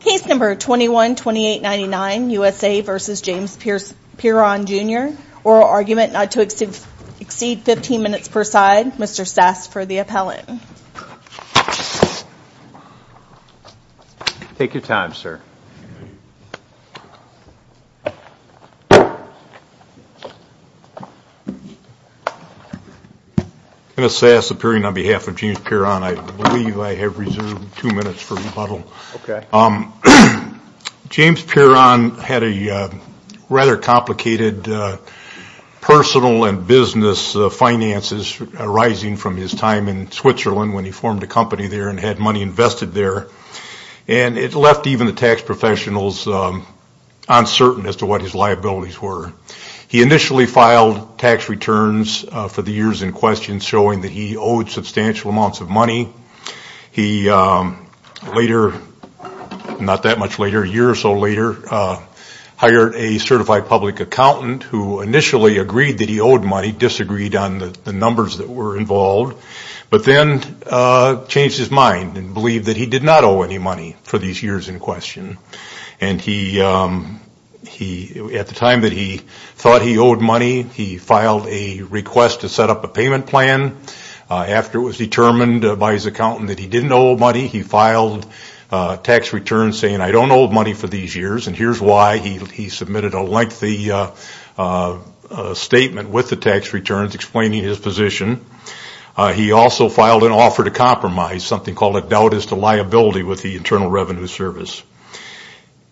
Case number 21-2899, USA v. James Pieron Jr. Oral argument not to exceed 15 minutes per side. Mr. Sass for the appellant. Take your time, sir. Mr. Sass, appearing on behalf of James Pieron, I believe I have reserved two minutes for rebuttal. Okay. James Pieron had a rather complicated personal and business finances arising from his time in Switzerland when he formed a company there and had money invested there. And it left even the tax professionals uncertain as to what his liabilities were. He initially filed tax returns for the years in question showing that he owed substantial amounts of money. He later, not that much later, a year or so later, hired a certified public accountant who initially agreed that he owed money, disagreed on the numbers that were involved, but then changed his mind and believed that he did not owe any money for these years in question. And at the time that he thought he owed money, he filed a request to set up a payment plan. After it was determined by his accountant that he didn't owe money, he filed tax returns saying, I don't owe money for these years. And here's why. He submitted a lengthy statement with the tax returns explaining his position. He also filed an offer to compromise, something called a doubt as to liability with the Internal Revenue Service.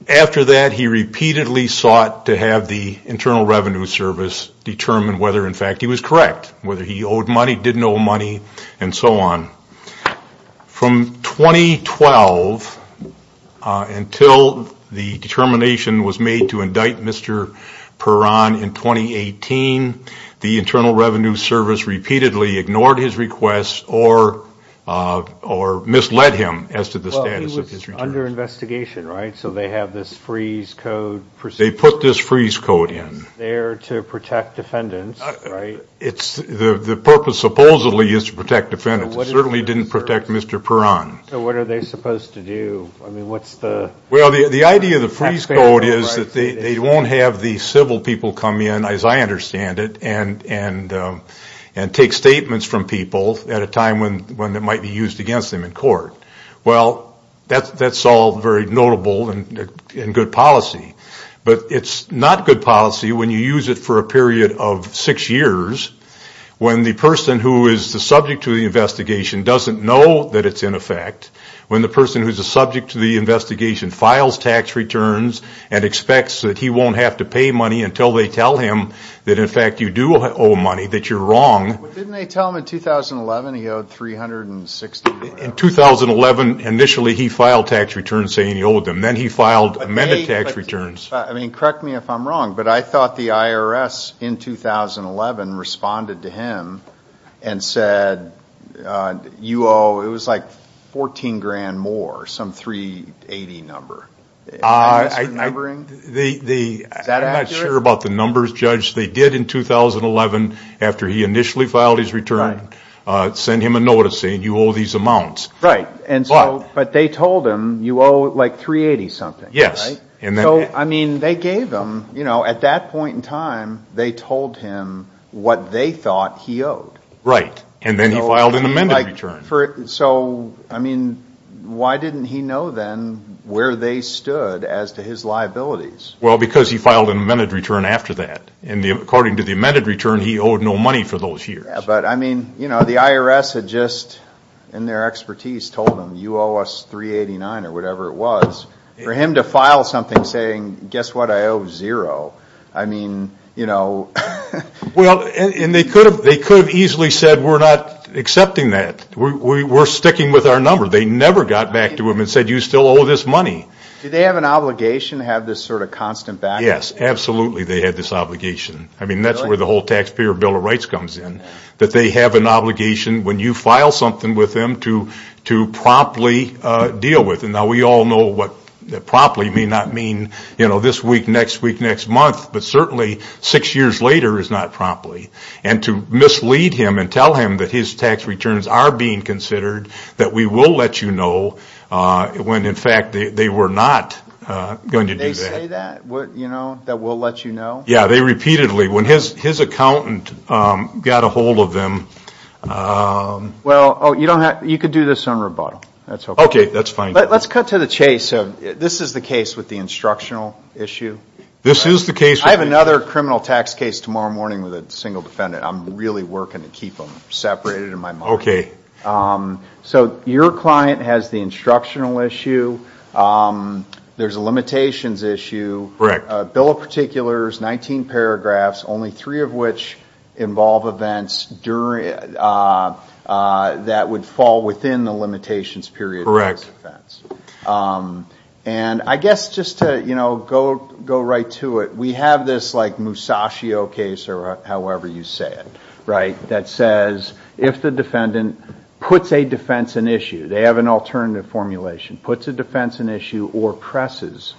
After that, he repeatedly sought to have the Internal Revenue Service determine whether, in fact, he was correct, whether he owed money, didn't owe money, and so on. From 2012 until the determination was made to indict Mr. Perron in 2018, the Internal Revenue Service repeatedly ignored his requests or misled him as to the status of his returns. Well, he was under investigation, right? So they have this freeze code procedure. They put this freeze code in. It's there to protect defendants, right? The purpose supposedly is to protect defendants. It certainly didn't protect Mr. Perron. So what are they supposed to do? I mean, what's the... Well, the idea of the freeze code is that they won't have the civil people come in, as I understand it, and take statements from people at a time when it might be used against them in court. Well, that's all very notable and good policy. But it's not good policy when you use it for a period of six years, when the person who is the subject to the investigation doesn't know that it's in effect, when the person who's the subject to the investigation files tax returns and expects that he won't have to pay money until they tell him that, in fact, you do owe money, that you're wrong. But didn't they tell him in 2011 he owed $360,000? In 2011, initially, he filed tax returns saying he owed them. And then he filed amended tax returns. I mean, correct me if I'm wrong, but I thought the IRS, in 2011, responded to him and said, you owe, it was like, $14,000 more, some $380,000 number. Is that numbering? Is that accurate? I'm not sure about the numbers, Judge. They did, in 2011, after he initially filed his return, send him a notice saying you owe these amounts. Right. But they told him you owe like $380,000 something. Yes. So, I mean, they gave him, you know, at that point in time, they told him what they thought he owed. Right. And then he filed an amended return. So, I mean, why didn't he know then where they stood as to his liabilities? Well, because he filed an amended return after that. And according to the amended return, he owed no money for those years. But, I mean, you know, the IRS had just, in their expertise, told him, you owe us $389,000 or whatever it was. For him to file something saying, guess what, I owe zero. I mean, you know. Well, and they could have easily said, we're not accepting that. We're sticking with our number. They never got back to him and said, you still owe this money. Did they have an obligation to have this sort of constant background? Yes. Absolutely, they had this obligation. I mean, that's where the whole taxpayer bill of rights comes in. That they have an obligation when you file something with them to promptly deal with it. Now, we all know what promptly may not mean, you know, this week, next week, next month. But certainly, six years later is not promptly. And to mislead him and tell him that his tax returns are being considered, that we will let you know when, in fact, they were not going to do that. Did they say that, you know, that we'll let you know? Yeah, they repeatedly, when his accountant got a hold of them. Well, you could do this on rebuttal. Okay, that's fine. Let's cut to the chase. This is the case with the instructional issue. This is the case. I have another criminal tax case tomorrow morning with a single defendant. I'm really working to keep them separated in my mind. Okay. So your client has the instructional issue. There's a limitations issue. Correct. Bill of particulars, 19 paragraphs, only three of which involve events that would fall within the limitations period. Correct. And I guess just to, you know, go right to it. We have this, like, Musashio case or however you say it, right, that says if the defendant puts a defense in issue, they have an alternative formulation, puts a defense in issue or presses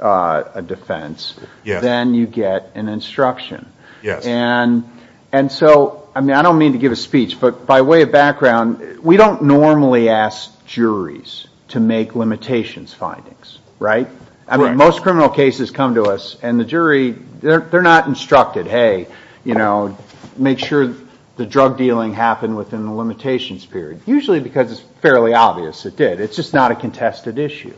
a defense, then you get an instruction. Yes. And so, I mean, I don't mean to give a speech, but by way of background, we don't normally ask juries to make limitations findings, right? Right. I mean, most criminal cases come to us, and the jury, they're not instructed, hey, you know, make sure the drug dealing happened within the limitations period. Usually because it's fairly obvious it did. It's just not a contested issue.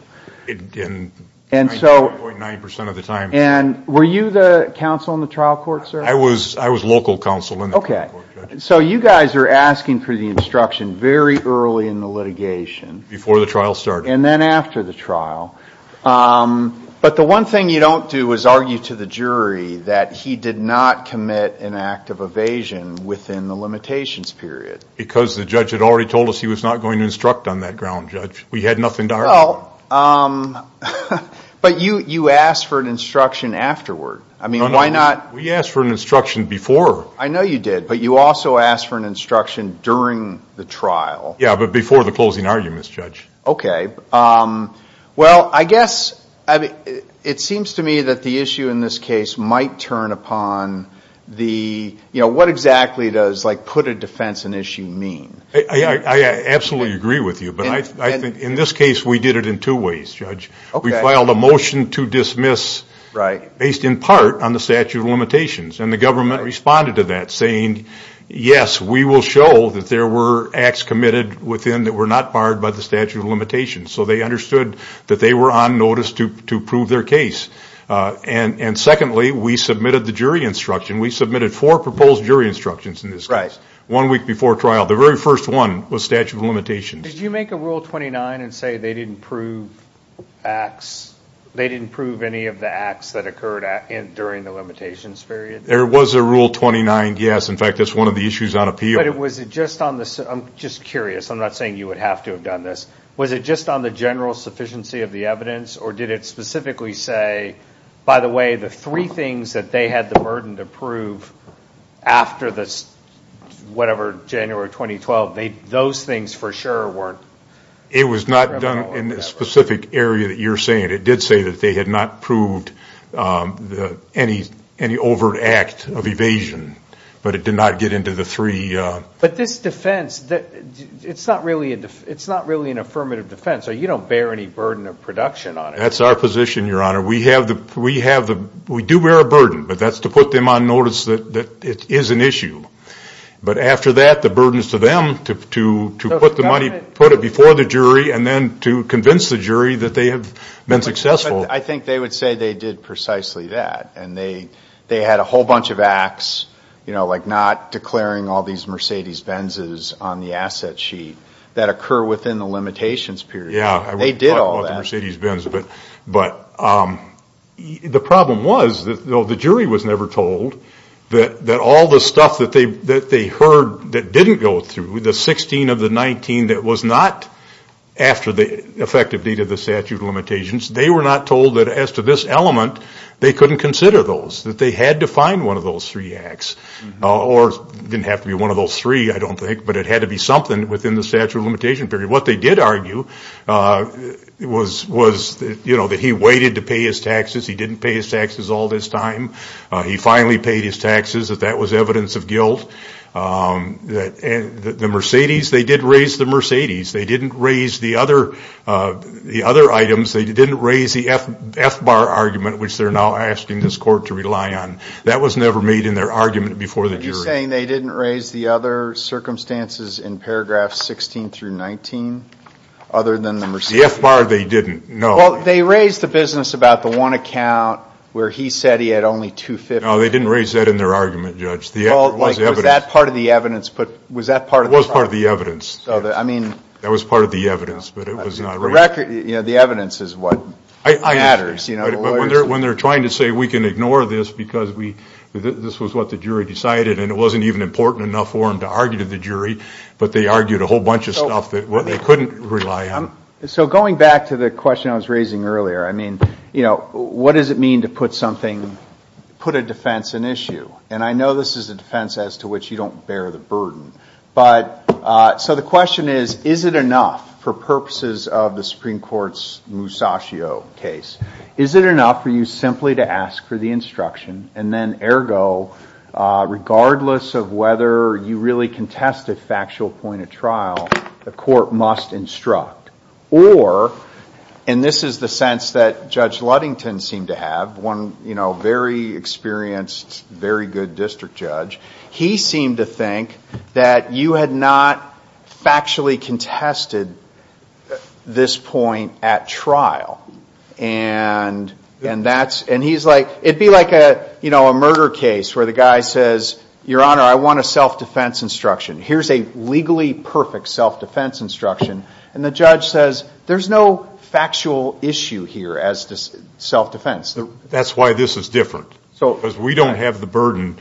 And 99.9% of the time. And were you the counsel in the trial court, sir? I was local counsel in the trial court, Judge. Okay. So you guys are asking for the instruction very early in the litigation. Before the trial started. And then after the trial. But the one thing you don't do is argue to the jury that he did not commit an act of evasion within the limitations period. Because the judge had already told us he was not going to instruct on that ground, Judge. We had nothing to argue with. But you asked for an instruction afterward. I mean, why not? We asked for an instruction before. I know you did, but you also asked for an instruction during the trial. Yeah, but before the closing arguments, Judge. Okay. Well, I guess it seems to me that the issue in this case might turn upon the, you know, what exactly does like put a defense in issue mean? I absolutely agree with you. But I think in this case we did it in two ways, Judge. We filed a motion to dismiss based in part on the statute of limitations. And the government responded to that saying, yes, we will show that there were acts committed within that were not barred by the statute of limitations. So they understood that they were on notice to prove their case. And secondly, we submitted the jury instruction. We submitted four proposed jury instructions in this case. Right. One week before trial. The very first one was statute of limitations. Did you make a rule 29 and say they didn't prove acts, they didn't prove any of the acts that occurred during the limitations period? There was a rule 29, yes. In fact, that's one of the issues on appeal. But was it just on the, I'm just curious. I'm not saying you would have to have done this. Was it just on the general sufficiency of the evidence or did it specifically say, by the way, the three things that they had the burden to prove after this, whatever, January 2012, those things for sure weren't? It was not done in the specific area that you're saying. It did say that they had not proved any overt act of evasion. But it did not get into the three. But this defense, it's not really an affirmative defense. You don't bear any burden of production on it. That's our position, Your Honor. We do bear a burden, but that's to put them on notice that it is an issue. But after that, the burden is to them to put the money, put it before the jury and then to convince the jury that they have been successful. I think they would say they did precisely that. And they had a whole bunch of acts, you know, like not declaring all these Mercedes-Benzes on the asset sheet that occur within the limitations period. Yeah. They did all that. But the problem was, though the jury was never told, that all the stuff that they heard that didn't go through, the 16 of the 19 that was not after the effective date of the statute of limitations, they were not told that as to this element, they couldn't consider those, that they had to find one of those three acts. Or it didn't have to be one of those three, I don't think, but it had to be something within the statute of limitation period. What they did argue was, you know, that he waited to pay his taxes. He didn't pay his taxes all this time. He finally paid his taxes. That was evidence of guilt. The Mercedes, they did raise the Mercedes. They didn't raise the other items. They didn't raise the F-bar argument, which they're now asking this court to rely on. That was never made in their argument before the jury. You're saying they didn't raise the other circumstances in paragraphs 16 through 19 other than the Mercedes? The F-bar, they didn't. No. Well, they raised the business about the one account where he said he had only 250. No, they didn't raise that in their argument, Judge. It was evidence. Was that part of the evidence? It was part of the evidence. I mean. That was part of the evidence, but it was not raised. The evidence is what matters, you know. When they're trying to say we can ignore this because this was what the jury decided, and it wasn't even important enough for them to argue to the jury, but they argued a whole bunch of stuff that they couldn't rely on. So going back to the question I was raising earlier, I mean, you know, what does it mean to put a defense in issue? And I know this is a defense as to which you don't bear the burden. So the question is, is it enough for purposes of the Supreme Court's Musascio case? Is it enough for you simply to ask for the instruction, and then ergo regardless of whether you really contested factual point of trial, the court must instruct? Or, and this is the sense that Judge Ludington seemed to have, one very experienced, very good district judge, he seemed to think that you had not factually contested this point at trial. And that's, and he's like, it'd be like a, you know, a murder case where the guy says, Your Honor, I want a self-defense instruction. Here's a legally perfect self-defense instruction. And the judge says, there's no factual issue here as to self-defense. That's why this is different. Because we don't have the burden.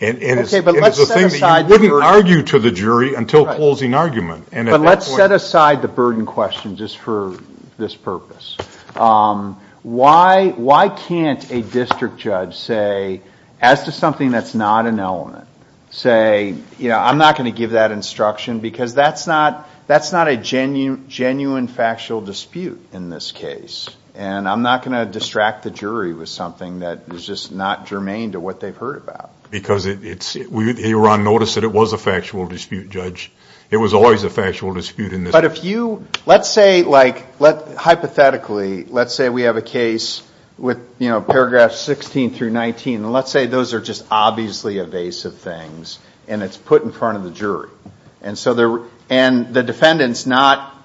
And it is a thing that you can argue to the jury until closing argument. But let's set aside the burden question just for this purpose. Why can't a district judge say, as to something that's not an element, say, you know, I'm not going to give that instruction because that's not a genuine factual dispute in this case. And I'm not going to distract the jury with something that is just not germane to what they've heard about. Because it's, we here on notice that it was a factual dispute, Judge. It was always a factual dispute in this case. But if you, let's say, like, hypothetically, let's say we have a case with, you know, paragraphs 16 through 19. And let's say those are just obviously evasive things. And it's put in front of the jury. And so, and the defendant's not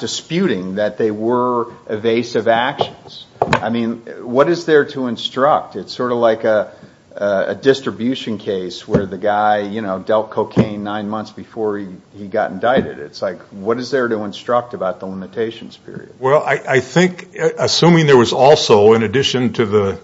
disputing that they were evasive actions. I mean, what is there to instruct? It's sort of like a distribution case where the guy, you know, dealt cocaine nine months before he got indicted. It's like, what is there to instruct about the limitations period? Well, I think, assuming there was also, in addition to the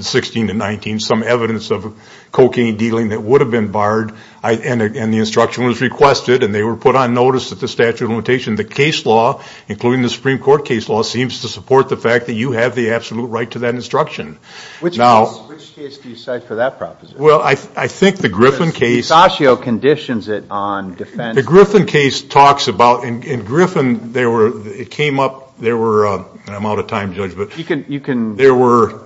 16 to 19, some evidence of cocaine dealing that would have been barred. And the instruction was requested. And they were put on notice at the statute of limitations. The case law, including the Supreme Court case law, seems to support the fact that you have the absolute right to that instruction. Which case do you cite for that proposition? Well, I think the Griffin case. Because Dicascio conditions it on defense. The Griffin case talks about, in Griffin, there were, it came up, there were, I'm out of time, Judge, but. You can. There were,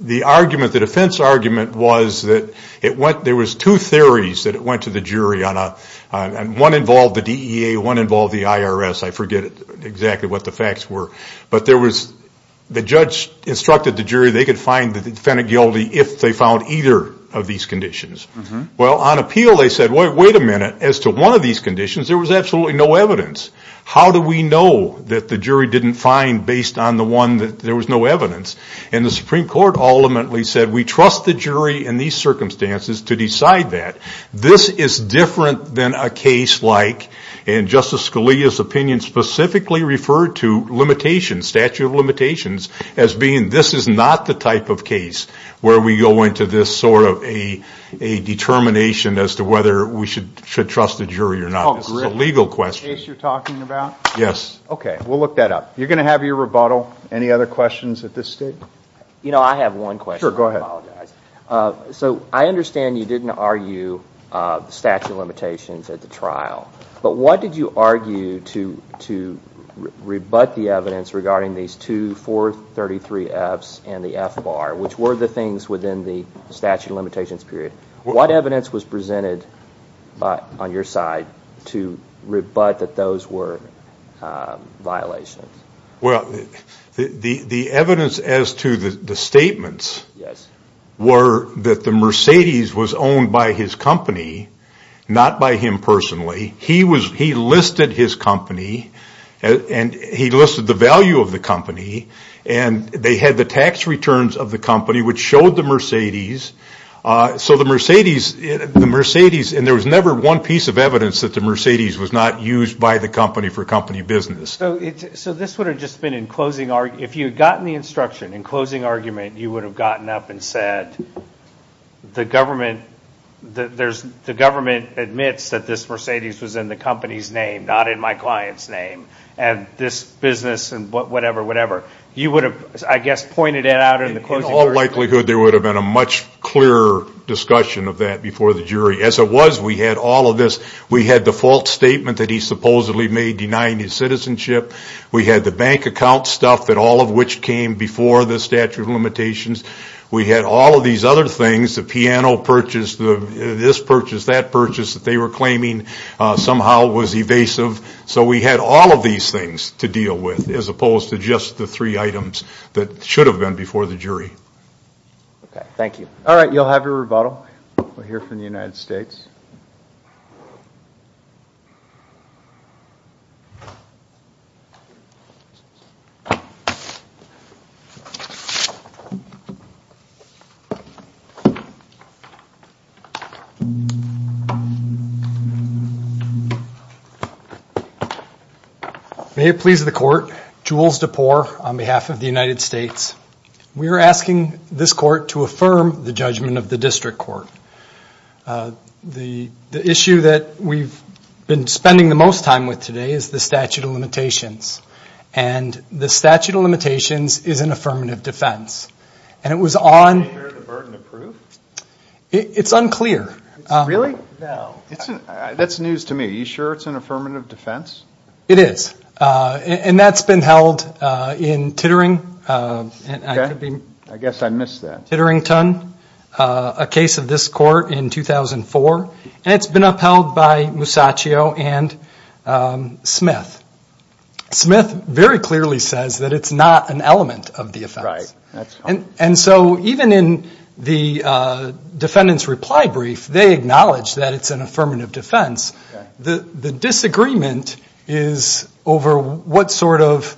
the argument, the defense argument was that it went, there was two theories that it went to the jury on a, and one involved the DEA, one involved the IRS. I forget exactly what the facts were. But there was, the judge instructed the jury they could find the defendant guilty if they found either of these conditions. Well, on appeal, they said, wait a minute. As to one of these conditions, there was absolutely no evidence. How do we know that the jury didn't find, based on the one, that there was no evidence? And the Supreme Court ultimately said, we trust the jury in these circumstances to decide that. This is different than a case like, in Justice Scalia's opinion, specifically referred to limitations, statute of limitations, as being this is not the type of case where we go into this sort of a, a determination as to whether we should trust the jury or not. This is a legal question. A case you're talking about? Yes. Okay, we'll look that up. You're going to have your rebuttal. Any other questions at this stage? You know, I have one question. Sure, go ahead. I apologize. So, I understand you didn't argue statute of limitations at the trial. But what did you argue to rebut the evidence regarding these two 433Fs and the F-bar, which were the things within the statute of limitations period? What evidence was presented on your side to rebut that those were violations? Well, the evidence as to the statements were that the Mercedes was owned by his company, not by him personally. He listed his company, and he listed the value of the company, and they had the tax returns of the company, which showed the Mercedes. So the Mercedes, the Mercedes, and there was never one piece of evidence that the Mercedes was not used by the company for company business. So this would have just been in closing, if you had gotten the instruction, in closing argument, you would have gotten up and said, the government admits that this Mercedes was in the company's name, not in my client's name, and this business, and whatever, whatever. You would have, I guess, pointed it out in the closing argument. In all likelihood, there would have been a much clearer discussion of that before the jury. As it was, we had all of this. We had the false statement that he supposedly made denying his citizenship. We had the bank account stuff, all of which came before the statute of limitations. We had all of these other things, the piano purchase, this purchase, that purchase, that they were claiming, somehow was evasive. So we had all of these things to deal with, as opposed to just the three items that should have been before the jury. Okay, thank you. All right, you'll have your rebuttal. We'll hear from the United States. May it please the court. Jules DePore on behalf of the United States. We are asking this court to affirm the judgment of the district court. The issue that we've been spending the most time with today is the statute of limitations. And the statute of limitations is an affirmative defense. And it was on. Is the burden approved? It's unclear. Really? No. That's news to me. Are you sure it's an affirmative defense? It is. And that's been held in Titterington, a case of this court in 2004. And it's been upheld by Musacchio and Smith. Smith very clearly says that it's not an element of the offense. Right. And so even in the defendant's reply brief, they acknowledge that it's an affirmative defense. The disagreement is over what sort of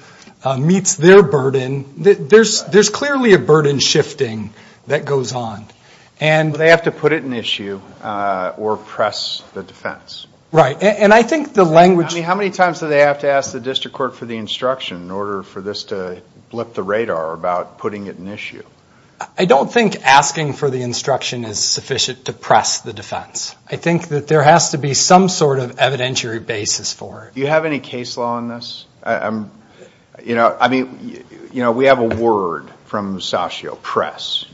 meets their burden. There's clearly a burden shifting that goes on. They have to put it in issue or press the defense. Right. And I think the language. How many times do they have to ask the district court for the instruction in order for this to blip the radar about putting it in issue? I don't think asking for the instruction is sufficient to press the defense. I think that there has to be some sort of evidentiary basis for it. Do you have any case law on this? We have a word from Musacchio, press.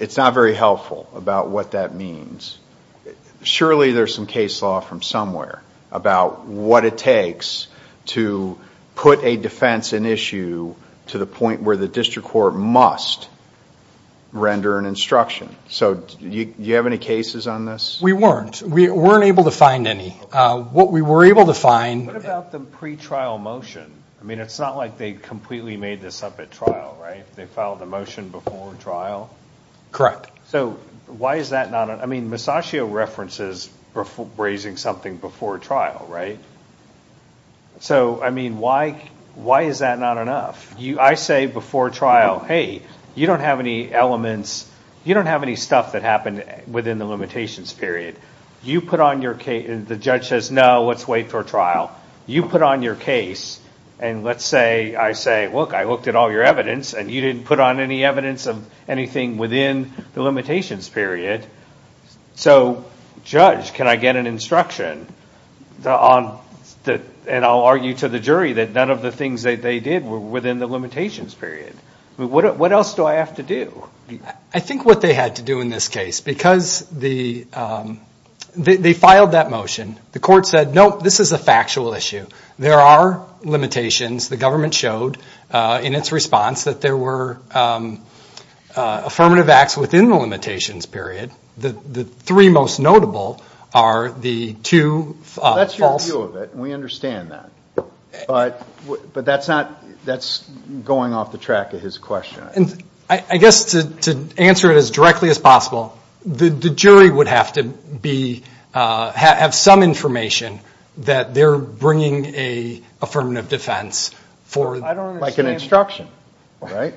It's not very helpful about what that means. Surely there's some case law from somewhere about what it takes to put a defense in issue to the point where the district court must render an instruction. So do you have any cases on this? We weren't. We weren't able to find any. What we were able to find. What about the pretrial motion? I mean, it's not like they completely made this up at trial, right? They filed a motion before trial? Correct. So why is that not enough? I mean, Musacchio references raising something before trial, right? So, I mean, why is that not enough? I say before trial, hey, you don't have any elements. You don't have any stuff that happened within the limitations period. You put on your case. The judge says, no, let's wait for trial. You put on your case. And let's say I say, look, I looked at all your evidence and you didn't put on any evidence of anything within the limitations period. So, judge, can I get an instruction? And I'll argue to the jury that none of the things that they did were within the limitations period. What else do I have to do? I think what they had to do in this case, because they filed that motion. The court said, nope, this is a factual issue. There are limitations. The government showed in its response that there were affirmative acts within the limitations period. The three most notable are the two false. Well, that's your view of it, and we understand that. But that's going off the track of his question. I guess to answer it as directly as possible, the jury would have to have some information that they're bringing an affirmative defense. Like an instruction, right?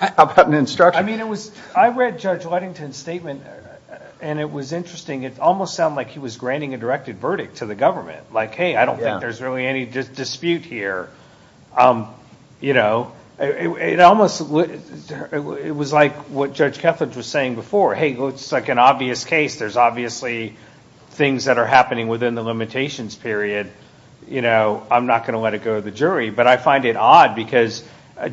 How about an instruction? I read Judge Whitington's statement, and it was interesting. It almost sounded like he was granting a directed verdict to the government. Like, hey, I don't think there's really any dispute here. It was like what Judge Kethledge was saying before. Hey, it's like an obvious case. There's obviously things that are happening within the limitations period. I'm not going to let it go to the jury. But I find it odd, because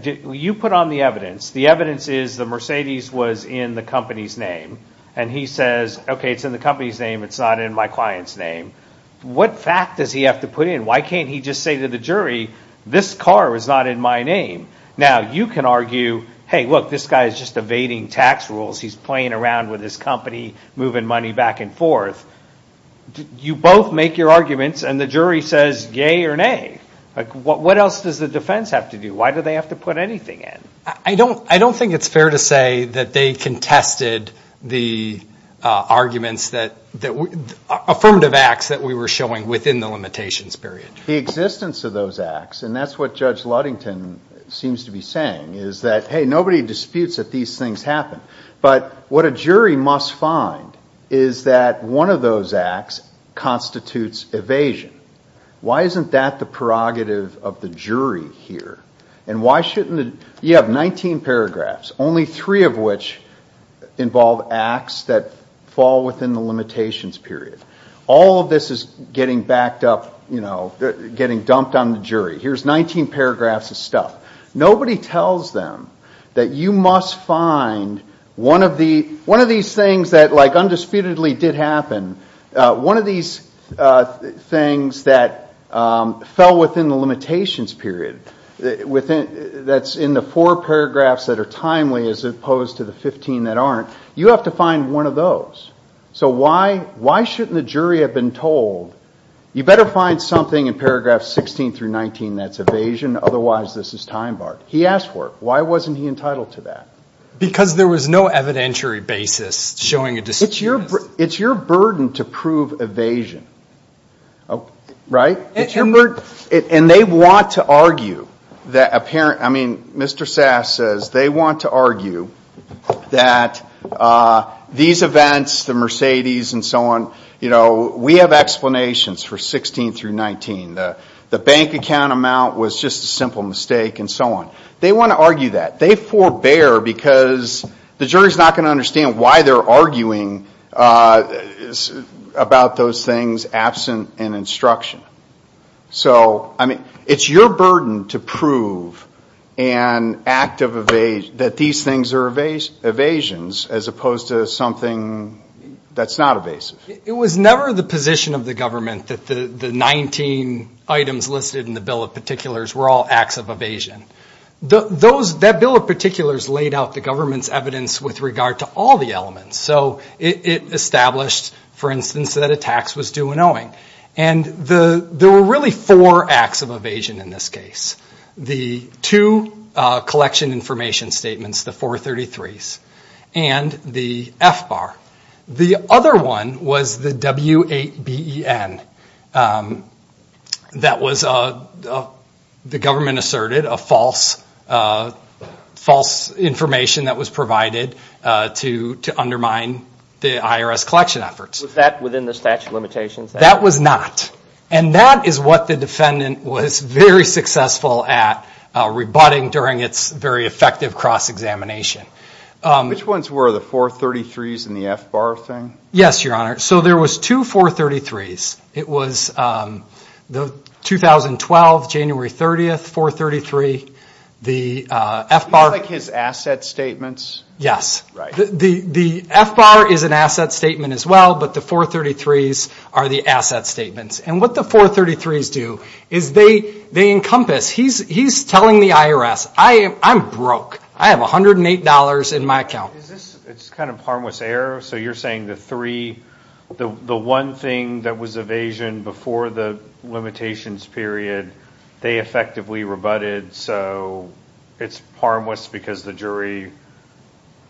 you put on the evidence. The evidence is the Mercedes was in the company's name. And he says, okay, it's in the company's name. It's not in my client's name. What fact does he have to put in? Why can't he just say to the jury, this car is not in my name? Now, you can argue, hey, look, this guy is just evading tax rules. He's playing around with his company, moving money back and forth. You both make your arguments, and the jury says yea or nay. What else does the defense have to do? Why do they have to put anything in? I don't think it's fair to say that they contested the arguments, affirmative acts that we were showing within the limitations period. The existence of those acts, and that's what Judge Ludington seems to be saying, is that, hey, nobody disputes that these things happen. But what a jury must find is that one of those acts constitutes evasion. Why isn't that the prerogative of the jury here? You have 19 paragraphs, only three of which involve acts that fall within the limitations period. All of this is getting backed up, getting dumped on the jury. Here's 19 paragraphs of stuff. Nobody tells them that you must find one of these things that, like, undisputedly did happen. One of these things that fell within the limitations period that's in the four paragraphs that are timely as opposed to the 15 that aren't, you have to find one of those. So why shouldn't the jury have been told, you better find something in paragraphs 16 through 19 that's evasion, otherwise this is time-barred? He asked for it. Why wasn't he entitled to that? Because there was no evidentiary basis showing a dispute. It's your burden to prove evasion, right? And they want to argue. I mean, Mr. Sass says they want to argue that these events, the Mercedes and so on, we have explanations for 16 through 19. The bank account amount was just a simple mistake and so on. They want to argue that. They forbear because the jury's not going to understand why they're arguing about those things absent an instruction. So, I mean, it's your burden to prove an act of evasion, that these things are evasions as opposed to something that's not evasive. It was never the position of the government that the 19 items listed in the bill of particulars were all acts of evasion. That bill of particulars laid out the government's evidence with regard to all the elements. So it established, for instance, that a tax was due an owing. And there were really four acts of evasion in this case. The two collection information statements, the 433s, and the F-bar. The other one was the W8BEN that was, the government asserted, false information that was provided to undermine the IRS collection efforts. Was that within the statute of limitations? That was not. And that is what the defendant was very successful at rebutting during its very effective cross-examination. Which ones were the 433s and the F-bar thing? Yes, Your Honor. So there was two 433s. It was the 2012, January 30th, 433. The F-bar. Like his asset statements? Yes. Right. The F-bar is an asset statement as well, but the 433s are the asset statements. And what the 433s do is they encompass. He's telling the IRS, I'm broke. I have $108 in my account. Is this, it's kind of harmless error. So you're saying the three, the one thing that was evasion before the limitations period, they effectively rebutted. So it's harmless because the jury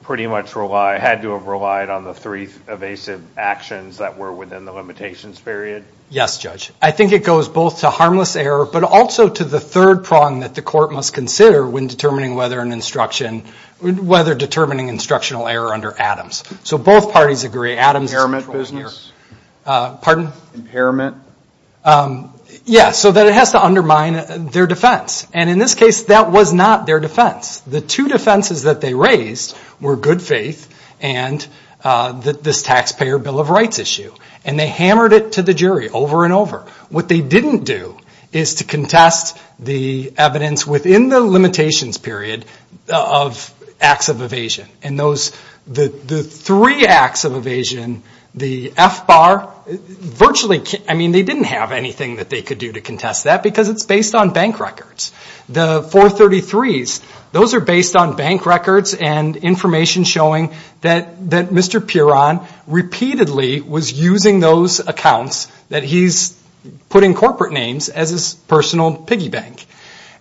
pretty much had to have relied on the three evasive actions that were within the limitations period? Yes, Judge. I think it goes both to harmless error, but also to the third prong that the court must consider when determining whether an instruction, whether determining instructional error under Adams. So both parties agree, Adams. Impairment business. Pardon? Impairment. Yes, so that it has to undermine their defense. And in this case, that was not their defense. The two defenses that they raised were good faith and this taxpayer bill of rights issue, and they hammered it to the jury over and over. What they didn't do is to contest the evidence within the limitations period of acts of evasion. And those, the three acts of evasion, the F-bar, virtually, I mean they didn't have anything that they could do to contest that because it's based on bank records. The 433s, those are based on bank records and information showing that Mr. Pierron repeatedly was using those accounts that he's put in corporate names as his personal piggy bank.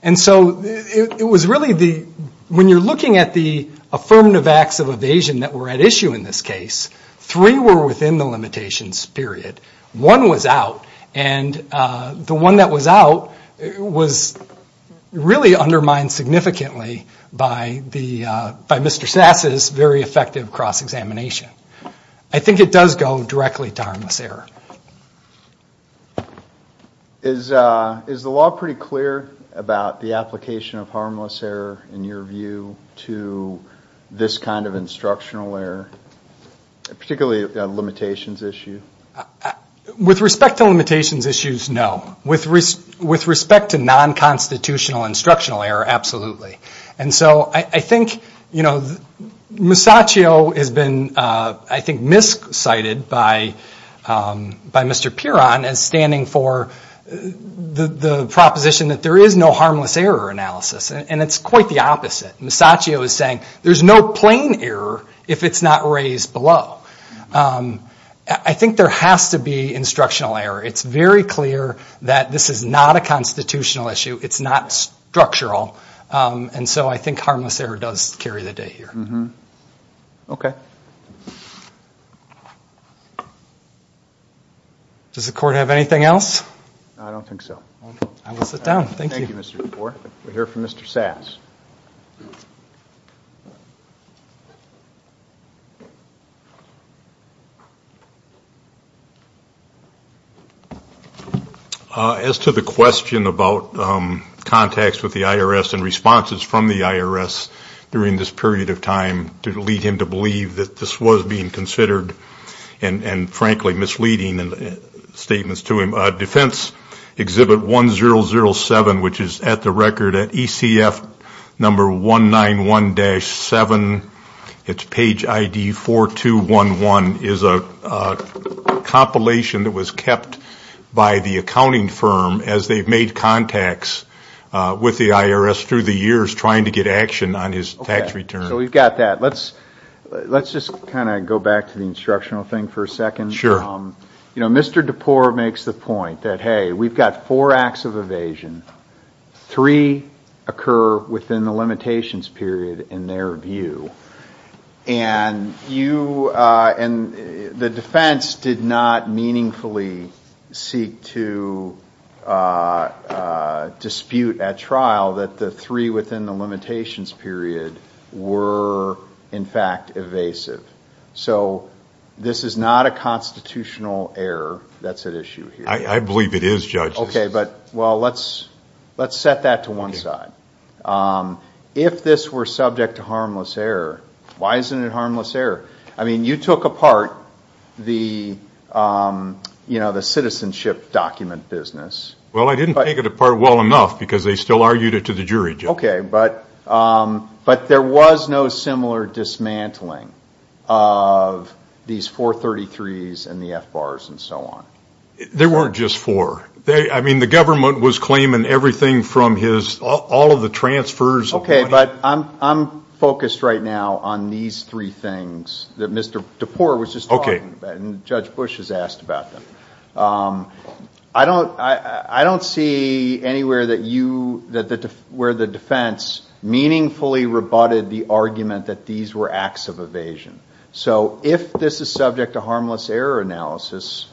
And so it was really the, when you're looking at the affirmative acts of evasion that were at issue in this case, three were within the limitations period. One was out, and the one that was out was really undermined significantly by Mr. Sassa's very effective cross-examination. I think it does go directly to harmless error. Is the law pretty clear about the application of harmless error, in your view, to this kind of instructional error, particularly a limitations issue? With respect to limitations issues, no. With respect to non-constitutional instructional error, absolutely. And so I think Musacchio has been, I think, miscited by Mr. Pierron as standing for the proposition that there is no harmless error analysis, and it's quite the opposite. Musacchio is saying there's no plain error if it's not raised below. I think there has to be instructional error. It's very clear that this is not a constitutional issue. It's not structural. And so I think harmless error does carry the day here. Okay. Does the Court have anything else? I don't think so. I will sit down. Thank you. Thank you, Mr. McCoy. We'll hear from Mr. Sass. As to the question about contacts with the IRS and responses from the IRS during this period of time to lead him to believe that this was being considered and, frankly, misleading statements to him, Exhibit 1007, which is at the record at ECF number 191-7. It's page ID 4211. It's a compilation that was kept by the accounting firm as they've made contacts with the IRS through the years trying to get action on his tax return. Okay. So we've got that. Let's just kind of go back to the instructional thing for a second. Sure. Mr. DePore makes the point that, hey, we've got four acts of evasion. Three occur within the limitations period in their view. And the defense did not meaningfully seek to dispute at trial that the three within the limitations period were, in fact, evasive. So this is not a constitutional error that's at issue here. I believe it is, Judge. Okay. But, well, let's set that to one side. If this were subject to harmless error, why isn't it harmless error? I mean, you took apart the citizenship document business. Well, I didn't take it apart well enough because they still argued it to the jury, Judge. Okay. But there was no similar dismantling of these 433s and the FBARs and so on. There weren't just four. I mean, the government was claiming everything from his, all of the transfers of money. Okay, but I'm focused right now on these three things that Mr. DePore was just talking about and Judge Bush has asked about them. I don't see anywhere where the defense meaningfully rebutted the argument that these were acts of evasion. So if this is subject to harmless error analysis,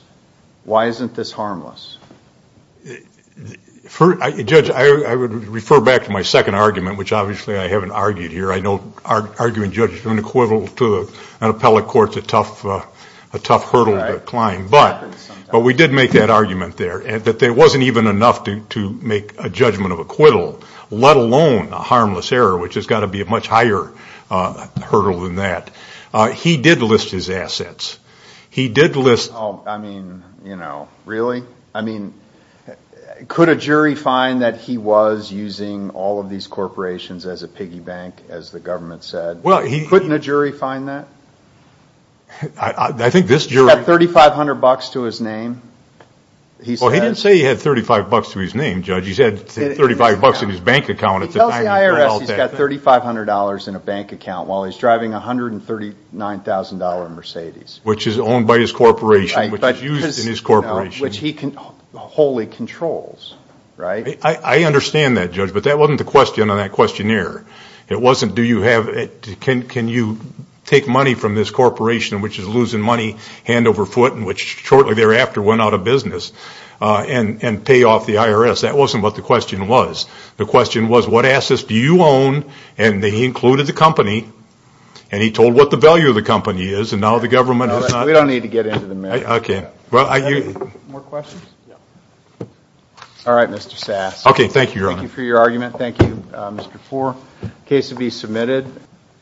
why isn't this harmless? Judge, I would refer back to my second argument, which obviously I haven't argued here. I know arguing, Judge, is an equivalent to an appellate court is a tough hurdle to climb. But we did make that argument there that there wasn't even enough to make a judgment of acquittal, let alone a harmless error, which has got to be a much higher hurdle than that. He did list his assets. He did list. I mean, you know, really? I mean, could a jury find that he was using all of these corporations as a piggy bank, as the government said? Couldn't a jury find that? I think this jury. He's got $3,500 to his name. Well, he didn't say he had $3,500 to his name, Judge. He said $3,500 in his bank account. He tells the IRS he's got $3,500 in a bank account while he's driving a $139,000 Mercedes. Which is owned by his corporation, which is used in his corporation. Which he wholly controls, right? I understand that, Judge, but that wasn't the question on that questionnaire. It wasn't do you have, can you take money from this corporation, which is losing money hand over foot, and which shortly thereafter went out of business, and pay off the IRS. That wasn't what the question was. The question was what assets do you own, and he included the company, and he told what the value of the company is, and now the government has not. We don't need to get into the matter. Okay. More questions? All right, Mr. Sass. Okay, thank you, Your Honor. Thank you for your argument. Thank you, Mr. Fore. The case will be submitted.